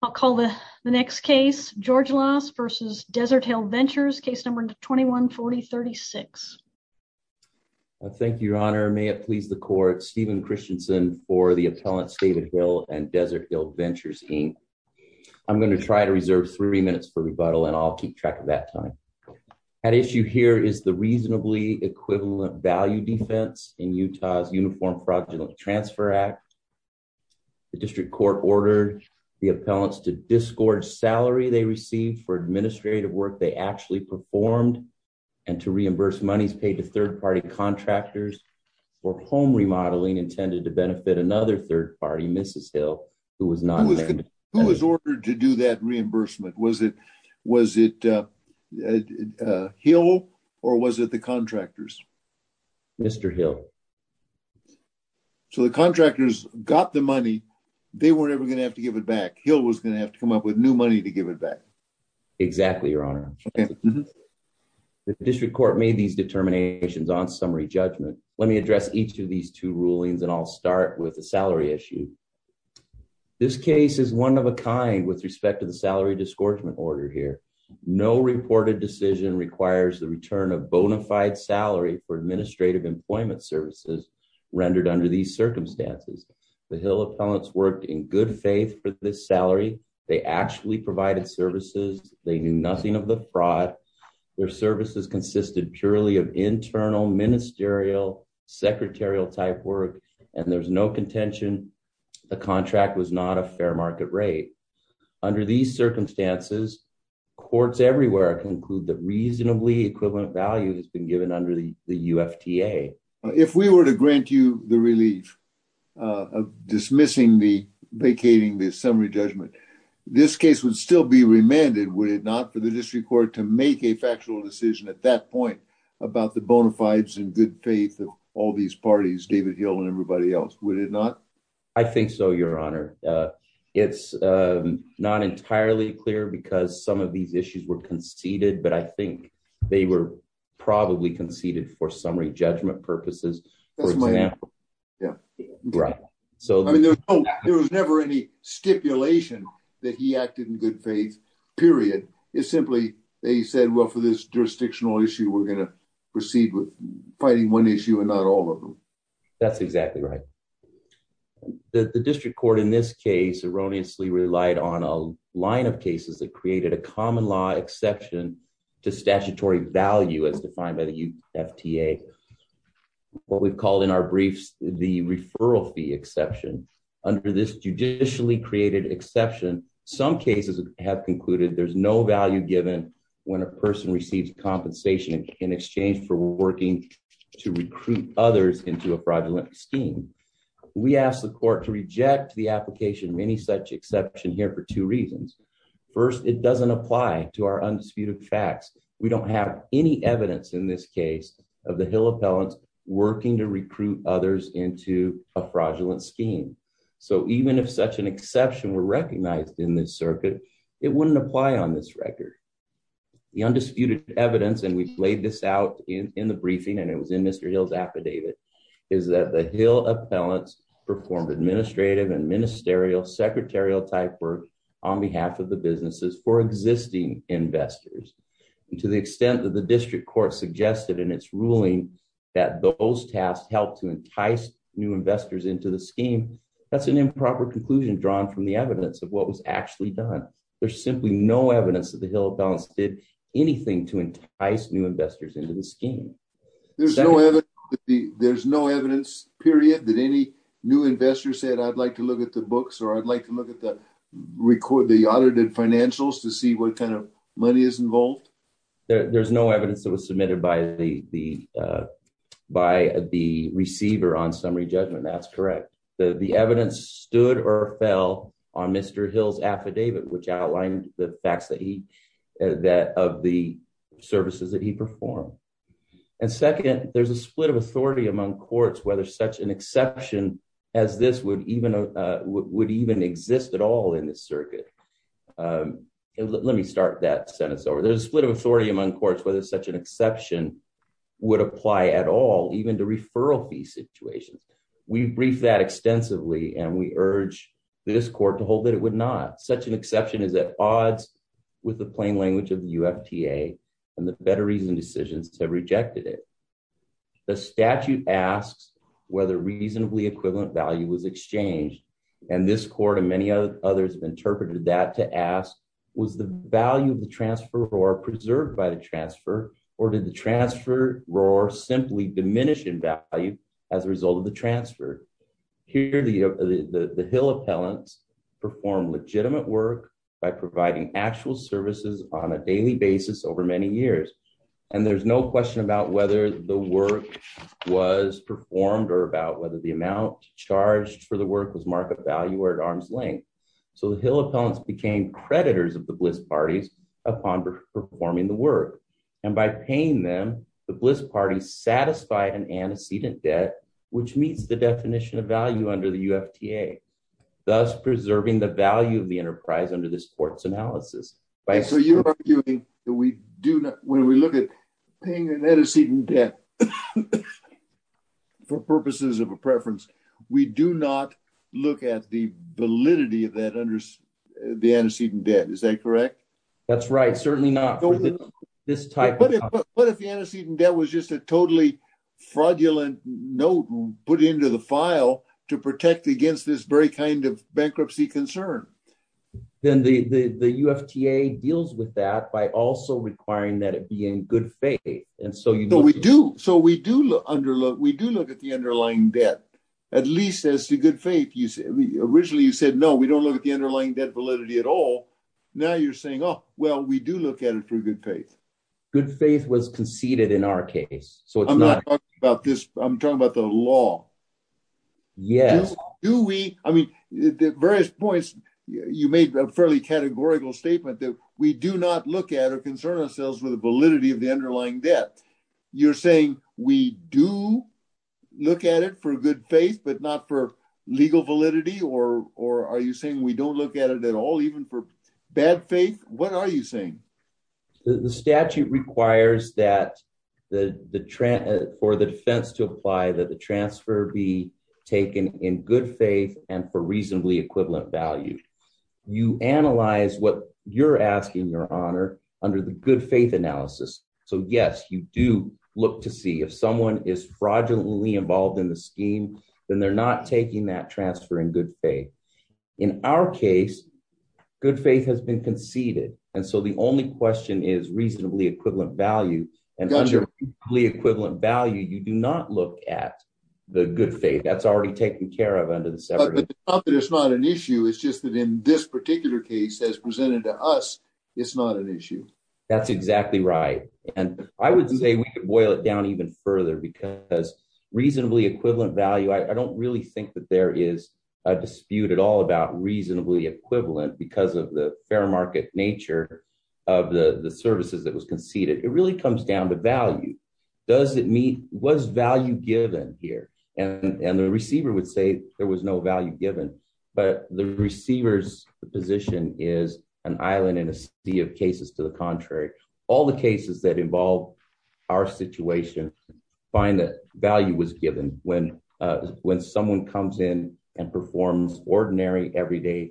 I'll call the next case, Georgelas versus Desert Hill Ventures, case number 21-4036. Thank you, Your Honor. May it please the court, Stephen Christensen for the appellants David Hill and Desert Hill Ventures, Inc. I'm going to try to reserve three minutes for rebuttal and I'll keep track of that time. That issue here is the reasonably equivalent value defense in Utah's Uniform Fraudulent Transfer Act. The district court ordered the appellants to disgorge salary they received for administrative work they actually performed and to reimburse monies paid to third-party contractors for home remodeling intended to benefit another third-party, Mrs. Hill, who was not there. Who was ordered to do that reimbursement? Was it Hill or was it the contractors? Mr. Hill. So the contractors got the money. They weren't ever going to have to give it back. Hill was going to have to come up with new money to give it back. Exactly, Your Honor. The district court made these determinations on summary judgment. Let me address each of these two rulings and I'll start with the salary issue. This case is one of a kind with respect to the salary disgorgement order here. No reported decision requires the return of bona fide salary for administrative employment services rendered under these circumstances. The Hill appellants worked in good faith for this salary. They actually provided services. They knew nothing of the fraud. Their services consisted purely of internal ministerial secretarial type work. And there's no contention. The contract was not a fair market rate. Under these circumstances, courts everywhere conclude that reasonably equivalent value has been given under the UFTA. If we were to grant you the relief of dismissing the vacating the summary judgment, this case would still be remanded, would it not, for the district court to make a factual decision at that point about the bona fides and good faith of all these parties, David Hill and everybody else? Would it not? I think so, Your Honor. It's not entirely clear because some of these issues were conceded, but I think they were probably conceded for summary judgment purposes. There was never any stipulation that he acted in good faith, period. It's simply they said, well, for this jurisdictional issue, we're going to proceed with fighting one issue and not all of them. That's exactly right. The district court in this case erroneously relied on a line of cases that created a common law exception to statutory value as defined by the UFTA. What we've called in our briefs the referral fee exception under this judicially created exception, some cases have concluded there's no value given when a person receives compensation in exchange for working to recruit others into a fraudulent scheme. We ask the court to reject the application of any such exception here for two reasons. First, it doesn't apply to our undisputed facts. We don't have any evidence in this case of the Hill appellants working to recruit others into a fraudulent scheme. So even if such an exception were recognized in this circuit, it wouldn't apply on this record. The undisputed evidence, and we've laid this out in the briefing and it was in Mr. Hill's affidavit, is that the Hill appellants performed administrative and ministerial secretarial type work on behalf of the businesses for existing investors. And to the extent that the district court suggested in its ruling that those tasks helped to entice new investors into the scheme, that's an improper conclusion drawn from the evidence of what was actually done. There's simply no evidence that the Hill appellants did anything to entice new investors into the scheme. There's no evidence, period, that any new investor said, I'd like to look at the books or I'd like to look at the audited financials to see what kind of money is involved? There's no evidence that was submitted by the receiver on summary judgment. That's correct. The evidence stood or fell on Mr. Hill's affidavit, which outlined the facts of the services that he performed. And second, there's a split of authority among courts whether such an exception as this would even exist at all in this circuit. Let me start that sentence over. There's a split of authority among courts whether such an exception would apply at all, even to referral fee situations. We've briefed that extensively and we urge this court to hold that it would not. Such an exception is at odds with the plain language of the UFTA and the better reason decisions have rejected it. The statute asks whether reasonably equivalent value was exchanged. And this court and many others have interpreted that to ask, was the value of the transfer or preserved by the transfer? Or did the transfer simply diminish in value as a result of the transfer? Here, the Hill appellants perform legitimate work by providing actual services on a daily basis over many years. And there's no question about whether the work was performed or about whether the amount charged for the work was market value or at arm's length. So the Hill appellants became creditors of the Bliss parties upon performing the work. And by paying them, the Bliss party satisfied an antecedent debt, which meets the definition of value under the UFTA, thus preserving the value of the enterprise under this court's analysis. So you're arguing that we do not, when we look at paying an antecedent debt for purposes of a preference, we do not look at the validity of that under the antecedent debt. Is that correct? That's right. Certainly not this type. But what if the antecedent debt was just a totally fraudulent note put into the file to protect against this very kind of bankruptcy concern? Then the UFTA deals with that by also requiring that it be in good faith. So we do look at the underlying debt, at least as to good faith. Originally you said, no, we don't look at the underlying debt validity at all. Now you're saying, oh, well, we do look at it through good faith. Good faith was conceded in our case. I'm not talking about this. I'm talking about the law. Yes. I mean, at various points, you made a fairly categorical statement that we do not look at or concern ourselves with the validity of the underlying debt. You're saying we do look at it for good faith, but not for legal validity? Or are you saying we don't look at it at all, even for bad faith? What are you saying? The statute requires that for the defense to apply, that the transfer be taken in good faith and for reasonably equivalent value. You analyze what you're asking your honor under the good faith analysis. So, yes, you do look to see if someone is fraudulently involved in the scheme, then they're not taking that transfer in good faith. In our case, good faith has been conceded. And so the only question is reasonably equivalent value and equally equivalent value. You do not look at the good faith that's already taken care of under the separate. It's not an issue. It's just that in this particular case as presented to us, it's not an issue. That's exactly right. And I would say we could boil it down even further because reasonably equivalent value. I don't really think that there is a dispute at all about reasonably equivalent because of the fair market nature of the services that was conceded. It really comes down to value. Does it mean was value given here? And the receiver would say there was no value given. But the receiver's position is an island in a sea of cases. All the cases that involve our situation find that value was given when when someone comes in and performs ordinary everyday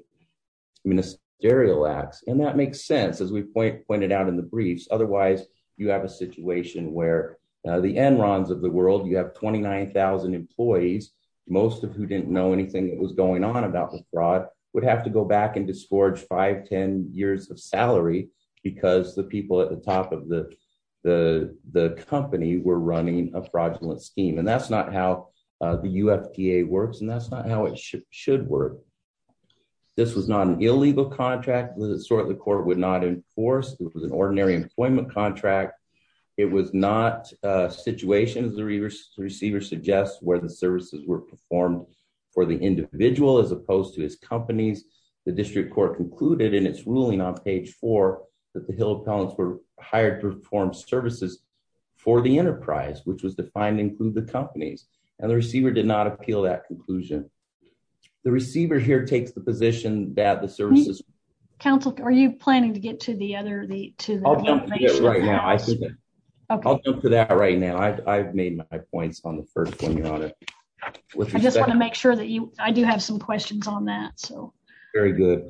ministerial acts. And that makes sense, as we pointed out in the briefs. Otherwise, you have a situation where the Enron's of the world, you have twenty nine thousand employees. Most of who didn't know anything that was going on about the fraud would have to go back and discharge five, 10 years of salary because the people at the top of the the the company were running a fraudulent scheme. And that's not how the UFDA works. And that's not how it should work. This was not an illegal contract that the court would not enforce. It was an ordinary employment contract. It was not a situation, as the receiver suggests, where the services were performed for the individual as opposed to his companies. The district court concluded in its ruling on page four that the hill towns were hired to perform services for the enterprise, which was the finding through the companies and the receiver did not appeal that conclusion. The receiver here takes the position that the services council. Are you planning to get to the other the two right now? I think I'll go for that right now. I've made my points on the first one. You're on it. I just want to make sure that you I do have some questions on that. So very good.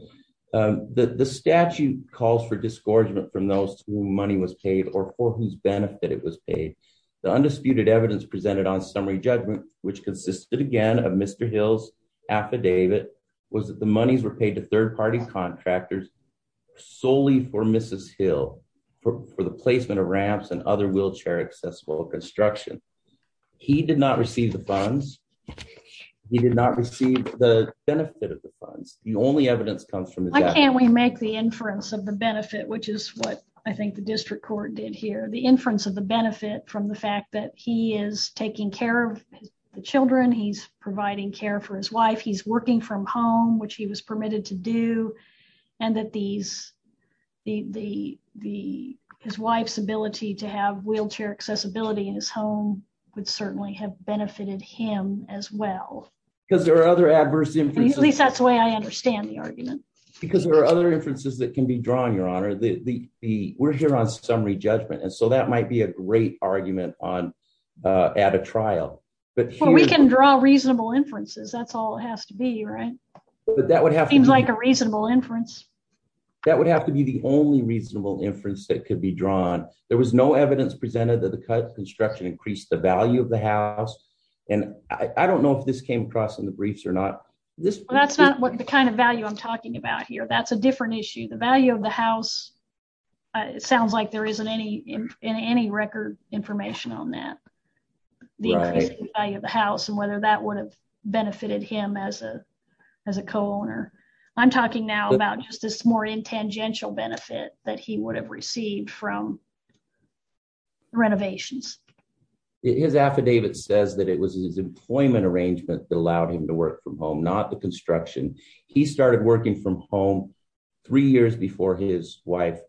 The statute calls for disgorgement from those who money was paid or for whose benefit it was paid. The undisputed evidence presented on summary judgment, which consisted, again, of Mr. Hill's affidavit was that the monies were paid to third party contractors solely for Mrs. Hill for the placement of ramps and other wheelchair accessible construction. He did not receive the funds. He did not receive the benefit of the funds. Why can't we make the inference of the benefit, which is what I think the district court did here, the inference of the benefit from the fact that he is taking care of the children. He's providing care for his wife. He's working from home, which he was permitted to do. And that these the the his wife's ability to have wheelchair accessibility in his home would certainly have benefited him as well. Because there are other adverse inferences. At least that's the way I understand the argument. Because there are other inferences that can be drawn, Your Honor. We're here on summary judgment. And so that might be a great argument on at a trial. But we can draw reasonable inferences. That's all it has to be. Right. But that would have seemed like a reasonable inference. That would have to be the only reasonable inference that could be drawn. There was no evidence presented that the construction increased the value of the house. And I don't know if this came across in the briefs or not. This that's not what the kind of value I'm talking about here. That's a different issue. The value of the house. It sounds like there isn't any in any record information on that. The value of the house and whether that would have benefited him as a as a co-owner. I'm talking now about just this more intangential benefit that he would have received from. Renovations. His affidavit says that it was his employment arrangement that allowed him to work from home, not the construction. He started working from home three years before his wife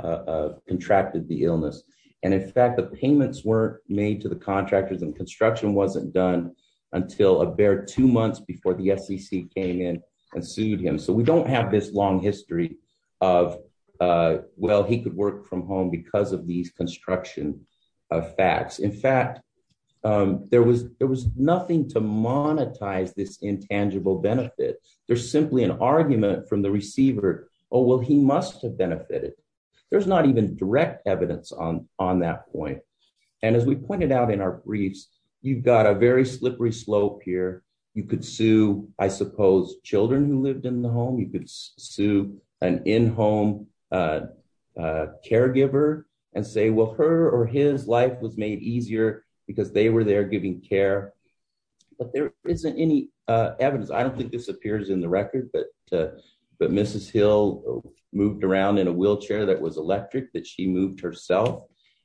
contracted the illness. And in fact, the payments were made to the contractors and construction wasn't done until a bare two months before the SEC came in and sued him. So we don't have this long history of, well, he could work from home because of these construction facts. In fact, there was there was nothing to monetize this intangible benefit. There's simply an argument from the receiver. Oh, well, he must have benefited. There's not even direct evidence on on that point. And as we pointed out in our briefs, you've got a very slippery slope here. You could sue, I suppose, children who lived in the home. You could sue an in-home caregiver and say, well, her or his life was made easier because they were there giving care. But there isn't any evidence. I don't think this appears in the record. But but Mrs. Hill moved around in a wheelchair that was electric that she moved herself.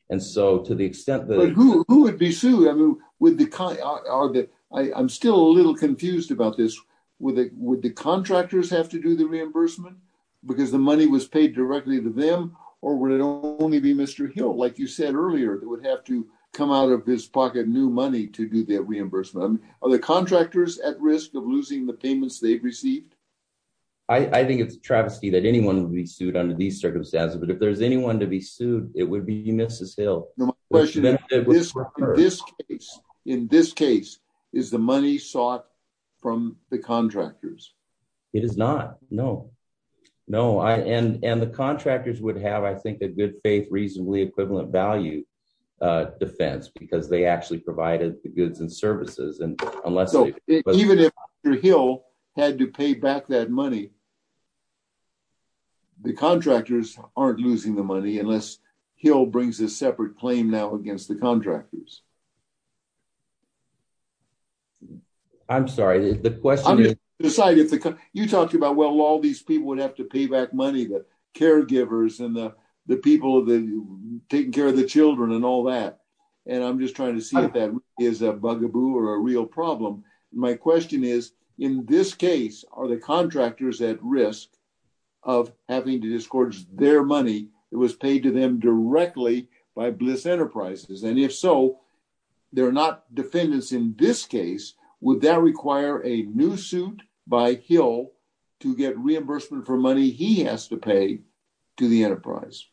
And so to the extent that who would be sued with the car, I'm still a little confused about this with it. Would the contractors have to do the reimbursement because the money was paid directly to them? Or would it only be Mr. Hill, like you said earlier, that would have to come out of his pocket new money to do that reimbursement? Are the contractors at risk of losing the payments they've received? I think it's travesty that anyone would be sued under these circumstances, but if there's anyone to be sued, it would be Mrs. Hill. No question. In this case, in this case is the money sought from the contractors. It is not. No, no. And and the contractors would have, I think, a good faith, reasonably equivalent value defense because they actually provided the goods and services. So even if Mr. Hill had to pay back that money. The contractors aren't losing the money unless he'll brings a separate claim now against the contractors. I'm sorry, the question is decided. You talked about, well, all these people would have to pay back money that caregivers and the people of the taking care of the children and all that. And I'm just trying to see if that is a bugaboo or a real problem. My question is, in this case, are the contractors at risk of having to discourage their money? It was paid to them directly by Bliss Enterprises. And if so, they're not defendants in this case. Would that require a new suit by Hill to get reimbursement for money he has to pay to the enterprise?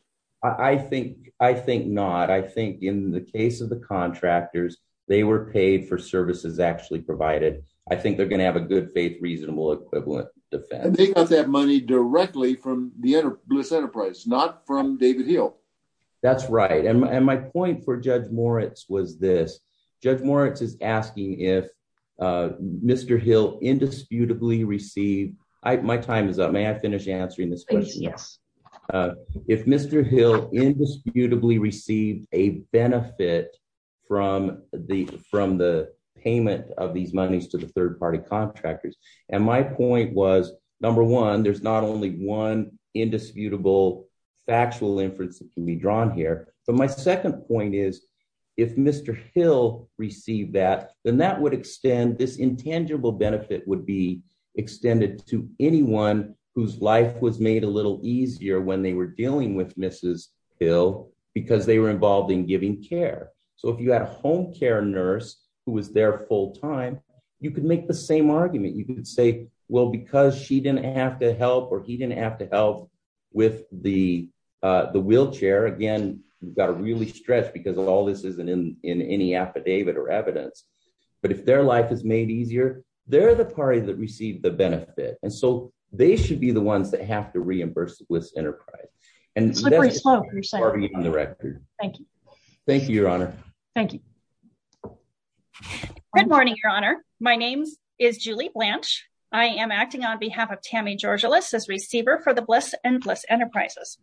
I think I think not. I think in the case of the contractors, they were paid for services actually provided. I think they're going to have a good faith, reasonable equivalent defense. They got that money directly from the Bliss Enterprise, not from David Hill. That's right. And my point for Judge Moritz was this. Judge Moritz is asking if Mr. Hill indisputably received. My time is up. May I finish answering this? Yes. If Mr. Hill indisputably received a benefit from the from the payment of these monies to the third party contractors. And my point was, number one, there's not only one indisputable factual inference that can be drawn here. But my second point is, if Mr. Hill received that, then that would extend this intangible benefit would be extended to anyone whose life was made a little easier when they were dealing with Mrs. Hill because they were involved in giving care. So if you had a home care nurse who was there full time, you could make the same argument. You could say, well, because she didn't have to help or he didn't have to help with the the wheelchair. Again, you've got to really stretch because of all this isn't in any affidavit or evidence. But if their life is made easier, they're the party that received the benefit. And so they should be the ones that have to reimburse the Bliss Enterprise. And so that's part of the record. Thank you. Thank you, Your Honor. Thank you. Good morning, Your Honor. My name is Julie Blanche. I am acting on behalf of Tammy Georgilis as receiver for the Bliss and Bliss Enterprises.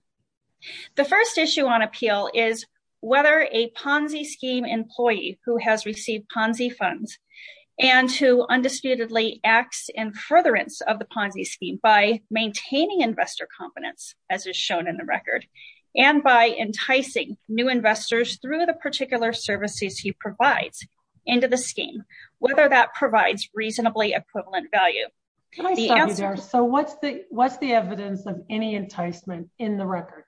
The first issue on appeal is whether a Ponzi scheme employee who has received Ponzi funds and who undisputedly acts in furtherance of the Ponzi scheme by maintaining investor competence, as is shown in the record, and by enticing new investors through the particular services he provides into the scheme, whether that provides reasonably equivalent value. So what's the what's the evidence of any enticement in the record?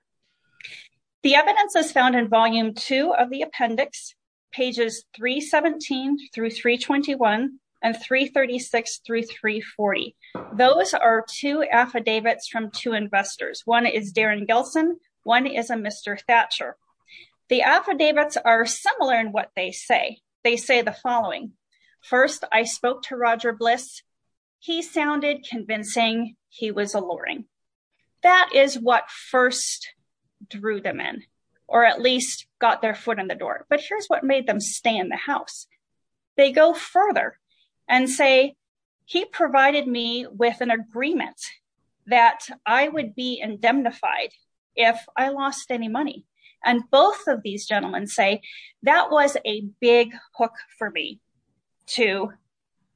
The evidence is found in volume two of the appendix, pages 317 through 321 and 336 through 340. Those are two affidavits from two investors. One is Darren Gilson. One is a Mr. Thatcher. The affidavits are similar in what they say. They say the following. First, I spoke to Roger Bliss. He sounded convincing. He was alluring. That is what first drew them in or at least got their foot in the door. But here's what made them stay in the house. They go further and say he provided me with an agreement that I would be indemnified if I lost any money. And both of these gentlemen say that was a big hook for me to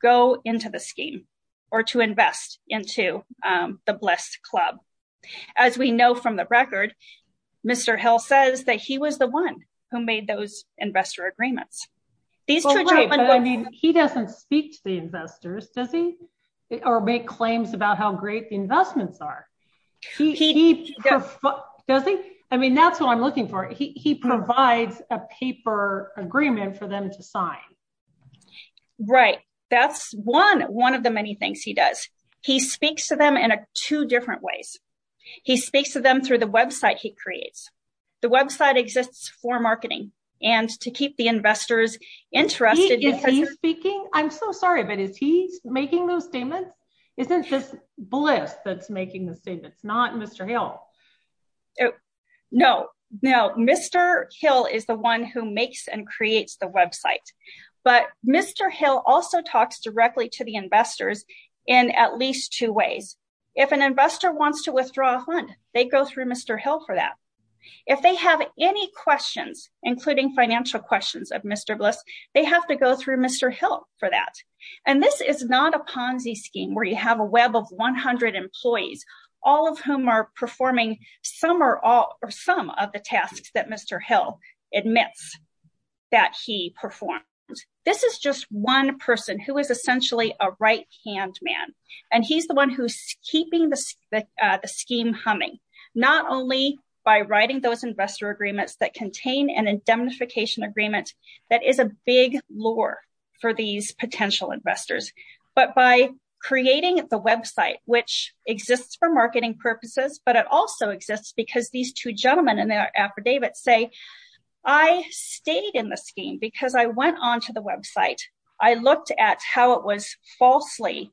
go into the scheme or to invest into the Bliss Club. As we know from the record, Mr. Hill says that he was the one who made those investor agreements. He doesn't speak to the investors, does he? Or make claims about how great the investments are. He does. I mean, that's what I'm looking for. He provides a paper agreement for them to sign. Right. That's one of the many things he does. He speaks to them in two different ways. He speaks to them through the website he creates. The website exists for marketing and to keep the investors interested. Is he speaking? I'm so sorry, but is he making those statements? Isn't this Bliss that's making the statements, not Mr. Hill? No, no, no. Mr. Hill is the one who makes and creates the website. But Mr. Hill also talks directly to the investors in at least two ways. If an investor wants to withdraw a fund, they go through Mr. Hill for that. If they have any questions, including financial questions of Mr. Bliss, they have to go through Mr. Hill for that. And this is not a Ponzi scheme where you have a web of 100 employees, all of whom are performing some or all or some of the tasks that Mr. Hill admits that he performed. This is just one person who is essentially a right hand man. And he's the one who's keeping the scheme humming, not only by writing those investor agreements that contain an indemnification agreement. That is a big lure for these potential investors. But by creating the website, which exists for marketing purposes, but it also exists because these two gentlemen in their affidavit say, I stayed in the scheme because I went on to the website. I looked at how it was falsely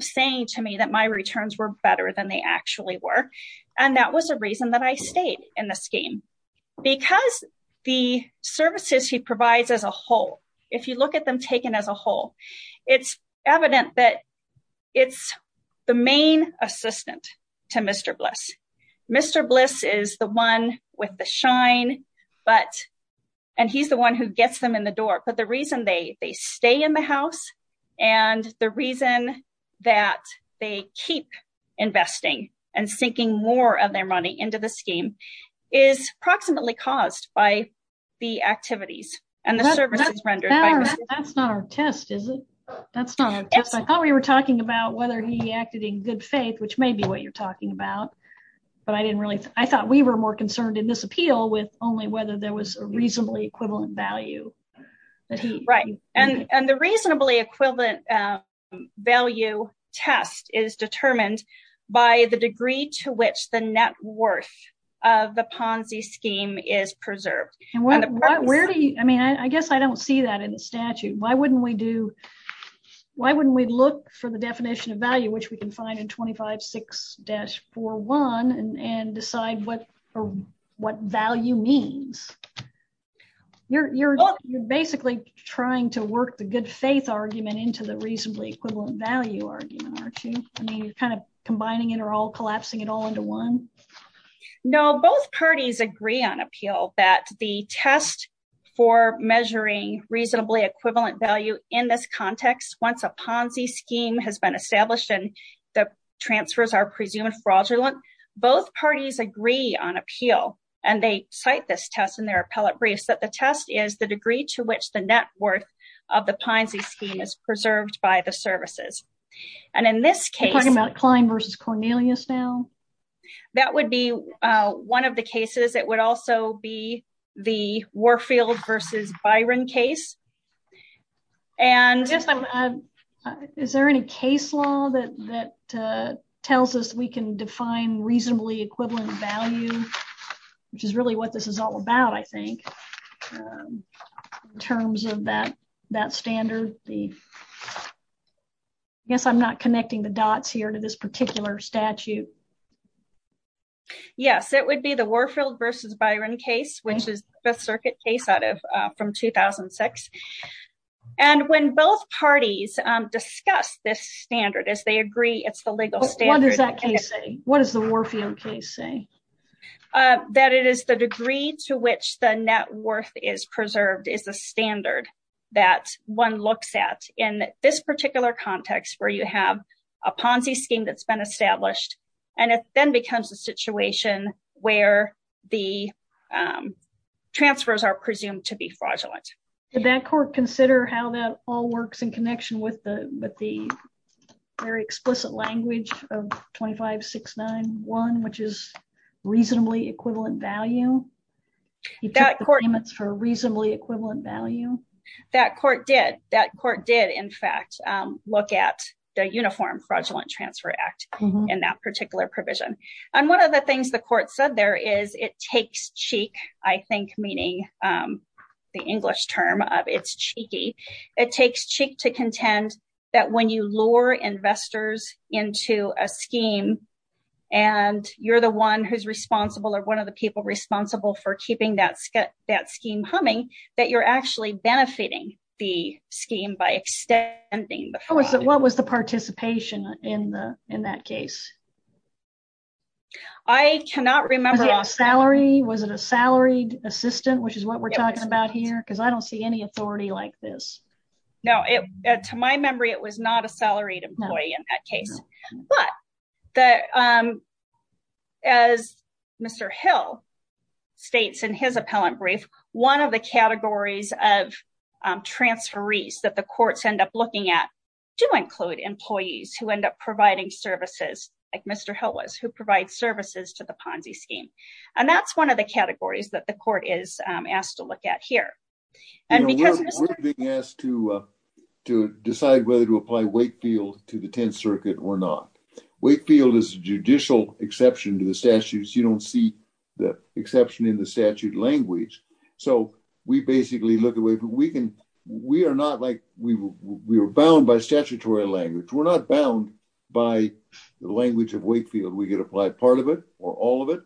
saying to me that my returns were better than they actually were. And that was the reason that I stayed in the scheme because the services he provides as a whole. If you look at them taken as a whole, it's evident that it's the main assistant to Mr. Bliss. Mr. Bliss is the one with the shine, but and he's the one who gets them in the door. But the reason they they stay in the house and the reason that they keep investing and sinking more of their money into the scheme is approximately caused by the activities and the services rendered. That's not our test, is it? That's not how we were talking about whether he acted in good faith, which may be what you're talking about. But I didn't really I thought we were more concerned in this appeal with only whether there was a reasonably equivalent value. Right. And the reasonably equivalent value test is determined by the degree to which the net worth of the Ponzi scheme is preserved. I mean, I guess I don't see that in the statute. Why wouldn't we do? Why wouldn't we look for the definition of value, which we can find in twenty five six dash four one and decide what what value means? You're you're basically trying to work the good faith argument into the reasonably equivalent value argument, aren't you? I mean, you're kind of combining it or all collapsing it all into one. No, both parties agree on appeal that the test for measuring reasonably equivalent value in this context, once a Ponzi scheme has been established and the transfers are presumed fraudulent. Both parties agree on appeal and they cite this test in their appellate briefs that the test is the degree to which the net worth of the Ponzi scheme is preserved by the services. And in this case, talking about Klein versus Cornelius now, that would be one of the cases. It would also be the Warfield versus Byron case. And is there any case law that that tells us we can define reasonably equivalent value, which is really what this is all about? I think in terms of that, that standard, the. Yes, I'm not connecting the dots here to this particular statute. Yes, it would be the Warfield versus Byron case, which is the circuit case out of from 2006. And when both parties discuss this standard, as they agree, it's the legal standard. What does that case say? What is the Warfield case say? That it is the degree to which the net worth is preserved is the standard that one looks at in this particular context where you have a Ponzi scheme that's been established and it then becomes a situation where the transfers are presumed to be fraudulent. Did that court consider how that all works in connection with the with the very explicit language of twenty five, six, nine, one, which is reasonably equivalent value? He got the payments for reasonably equivalent value. That court did. That court did, in fact, look at the Uniform Fraudulent Transfer Act in that particular provision. And one of the things the court said there is it takes cheek, I think, meaning the English term of it's cheeky. It takes cheek to contend that when you lure investors into a scheme and you're the one who's responsible or one of the people responsible for keeping that that scheme humming, that you're actually benefiting the scheme by extending. What was the participation in the in that case? I cannot remember salary. Was it a salaried assistant, which is what we're talking about here, because I don't see any authority like this. No, to my memory, it was not a salaried employee in that case, but that. As Mr. Hill states in his appellant brief, one of the categories of transferees that the courts end up looking at do include employees who end up providing services like Mr. Hill was who provide services to the Ponzi scheme. And that's one of the categories that the court is asked to look at here. And because we're being asked to to decide whether to apply Wakefield to the 10th Circuit or not, Wakefield is a judicial exception to the statutes. You don't see the exception in the statute language. So we basically look away. We can we are not like we were bound by statutory language. We're not bound by the language of Wakefield. We get applied part of it or all of it.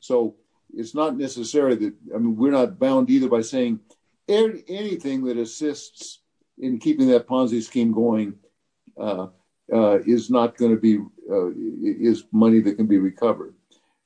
So it's not necessary that we're not bound either by saying anything that assists in keeping that Ponzi scheme going is not going to be is money that can be recovered.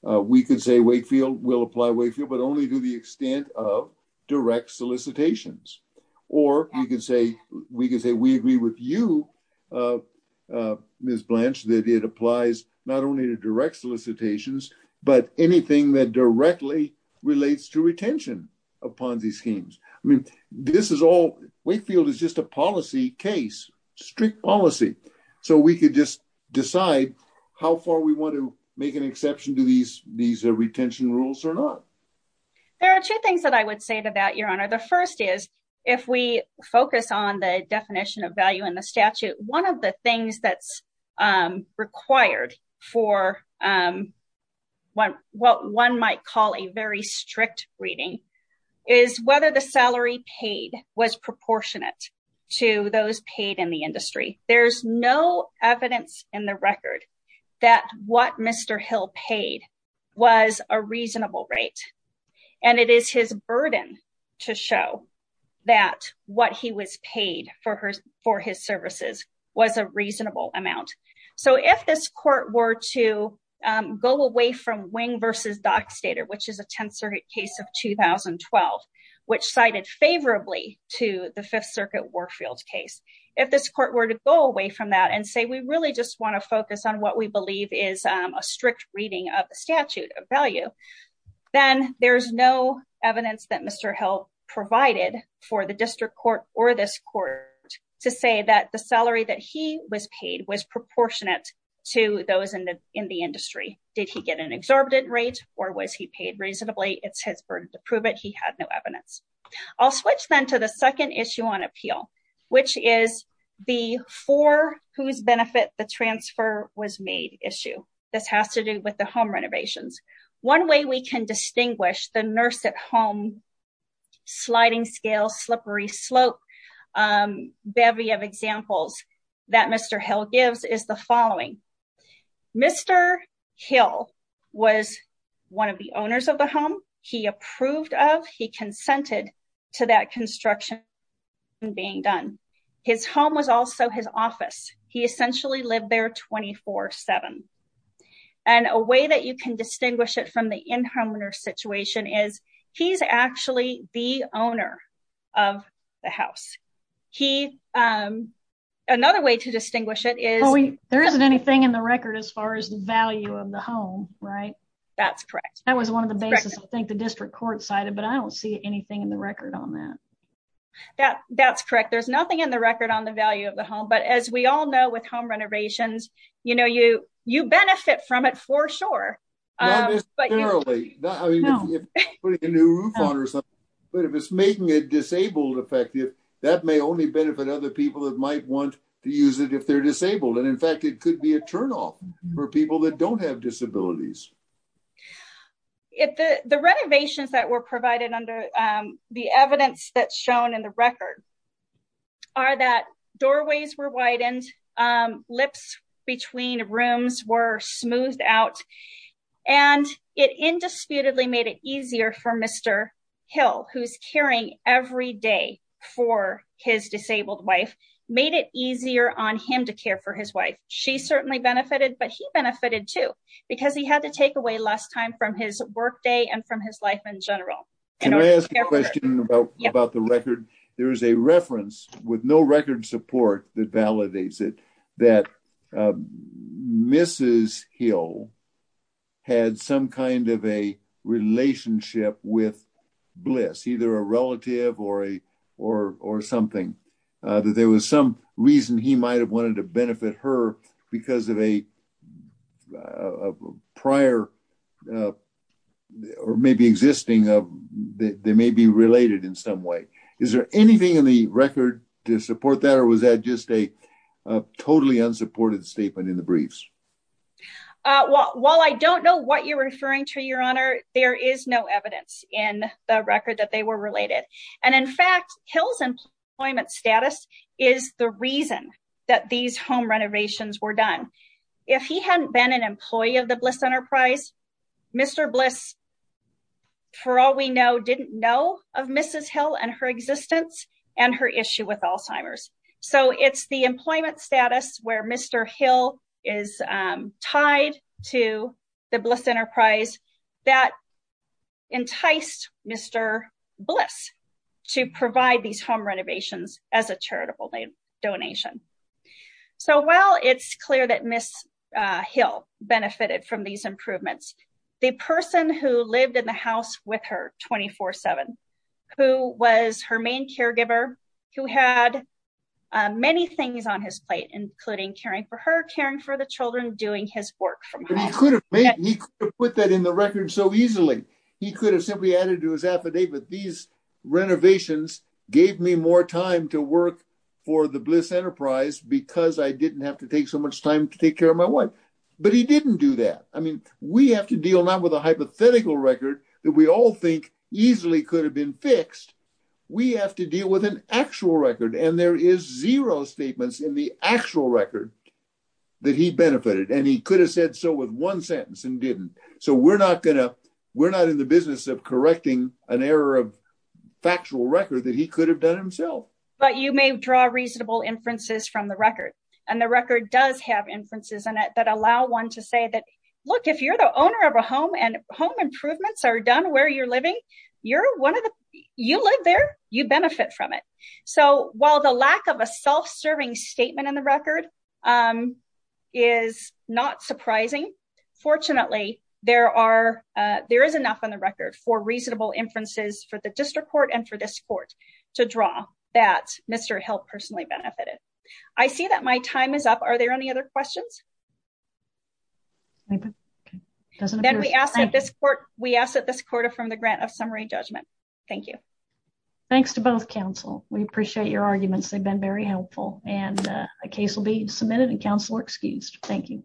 We could say Wakefield will apply Wakefield, but only to the extent of direct solicitations. Or you could say we could say we agree with you, Ms. Blanche, that it applies not only to direct solicitations, but anything that directly relates to retention of Ponzi schemes. I mean, this is all Wakefield is just a policy case, strict policy. So we could just decide how far we want to make an exception to these these retention rules or not. There are two things that I would say to that, Your Honor. The first is, if we focus on the definition of value in the statute, one of the things that's required for what one might call a very strict reading is whether the salary paid was proportionate to those paid in the industry. There's no evidence in the record that what Mr. Hill paid was a reasonable rate. And it is his burden to show that what he was paid for his services was a reasonable amount. So if this court were to go away from Wing v. Dockstader, which is a 10th Circuit case of 2012, which cited favorably to the Fifth Circuit Warfield case, if this court were to go away from that and say we really just want to focus on what we believe is a strict reading of the statute of value, then there's no evidence that Mr. Hill provided for the district court or this court to say that the salary that he was paid was proportionate to those in the industry. Did he get an exorbitant rate or was he paid reasonably? It's his burden to prove it. He had no evidence. I'll switch then to the second issue on appeal, which is the for whose benefit the transfer was made issue. This has to do with the home renovations. One way we can distinguish the nurse at home sliding scale slippery slope bevy of examples that Mr. Hill gives is the following. Mr. Hill was one of the owners of the home he approved of. He consented to that construction being done. His home was also his office. He essentially lived there 24-7. And a way that you can distinguish it from the in-home nurse situation is he's actually the owner of the house. Another way to distinguish it is... There isn't anything in the record as far as the value of the home, right? That's correct. That was one of the basis I think the district court cited, but I don't see anything in the record on that. That's correct. There's nothing in the record on the value of the home. But as we all know with home renovations, you benefit from it for sure. But if it's making it disabled effective, that may only benefit other people that might want to use it if they're disabled. And in fact, it could be a turnoff for people that don't have disabilities. The renovations that were provided under the evidence that's shown in the record are that doorways were widened, lips between rooms were smoothed out, and it indisputably made it easier for Mr. Hill, who's caring every day for his disabled wife. Made it easier on him to care for his wife. She certainly benefited, but he benefited too, because he had to take away less time from his workday and from his life in general. Can I ask a question about the record. There is a reference with no record support that validates it, that Mrs. Hill had some kind of a relationship with bliss either a relative or a, or, or something that there was some reason he might have wanted to benefit her because of a prior. Or maybe existing, they may be related in some way. Is there anything in the record to support that or was that just a totally unsupported statement in the briefs. Well, I don't know what you're referring to your honor, there is no evidence in the record that they were related. And in fact, kills employment status is the reason that these home renovations were done. If he hadn't been an employee of the bliss enterprise. Mr bliss. For all we know didn't know of Mrs. Hill and her existence and her issue with Alzheimer's. So it's the employment status where Mr. Hill is tied to the bliss enterprise that enticed Mr. Bliss to provide these home renovations as a charitable donation. So while it's clear that Miss Hill benefited from these improvements, the person who lived in the house with her 24 seven, who was her main caregiver, who had many things on his plate, including caring for her caring for the children doing his work from put that in the record so easily. He could have simply added to his affidavit these renovations gave me more time to work for the bliss enterprise because I didn't have to take so much time to take care of my wife. But he didn't do that. I mean, we have to deal not with a hypothetical record that we all think easily could have been fixed. We have to deal with an actual record and there is zero statements in the actual record that he benefited and he could have said so with one sentence and didn't. So we're not gonna, we're not in the business of correcting an error of factual record that he could have done himself. But you may draw reasonable inferences from the record and the record does have inferences in it that allow one to say that, look, if you're the owner of a home and home improvements are done where you're living, you're one of the, you live there, you benefit from it. So, while the lack of a self serving statement in the record is not surprising. Fortunately, there are there is enough on the record for reasonable inferences for the district court and for this court to draw that Mr help personally benefited. I see that my time is up. Are there any other questions. Doesn't that we asked this court, we asked that this quarter from the grant of summary judgment. Thank you. Thanks to both counsel, we appreciate your arguments they've been very helpful, and a case will be submitted and counselor excused. Thank you.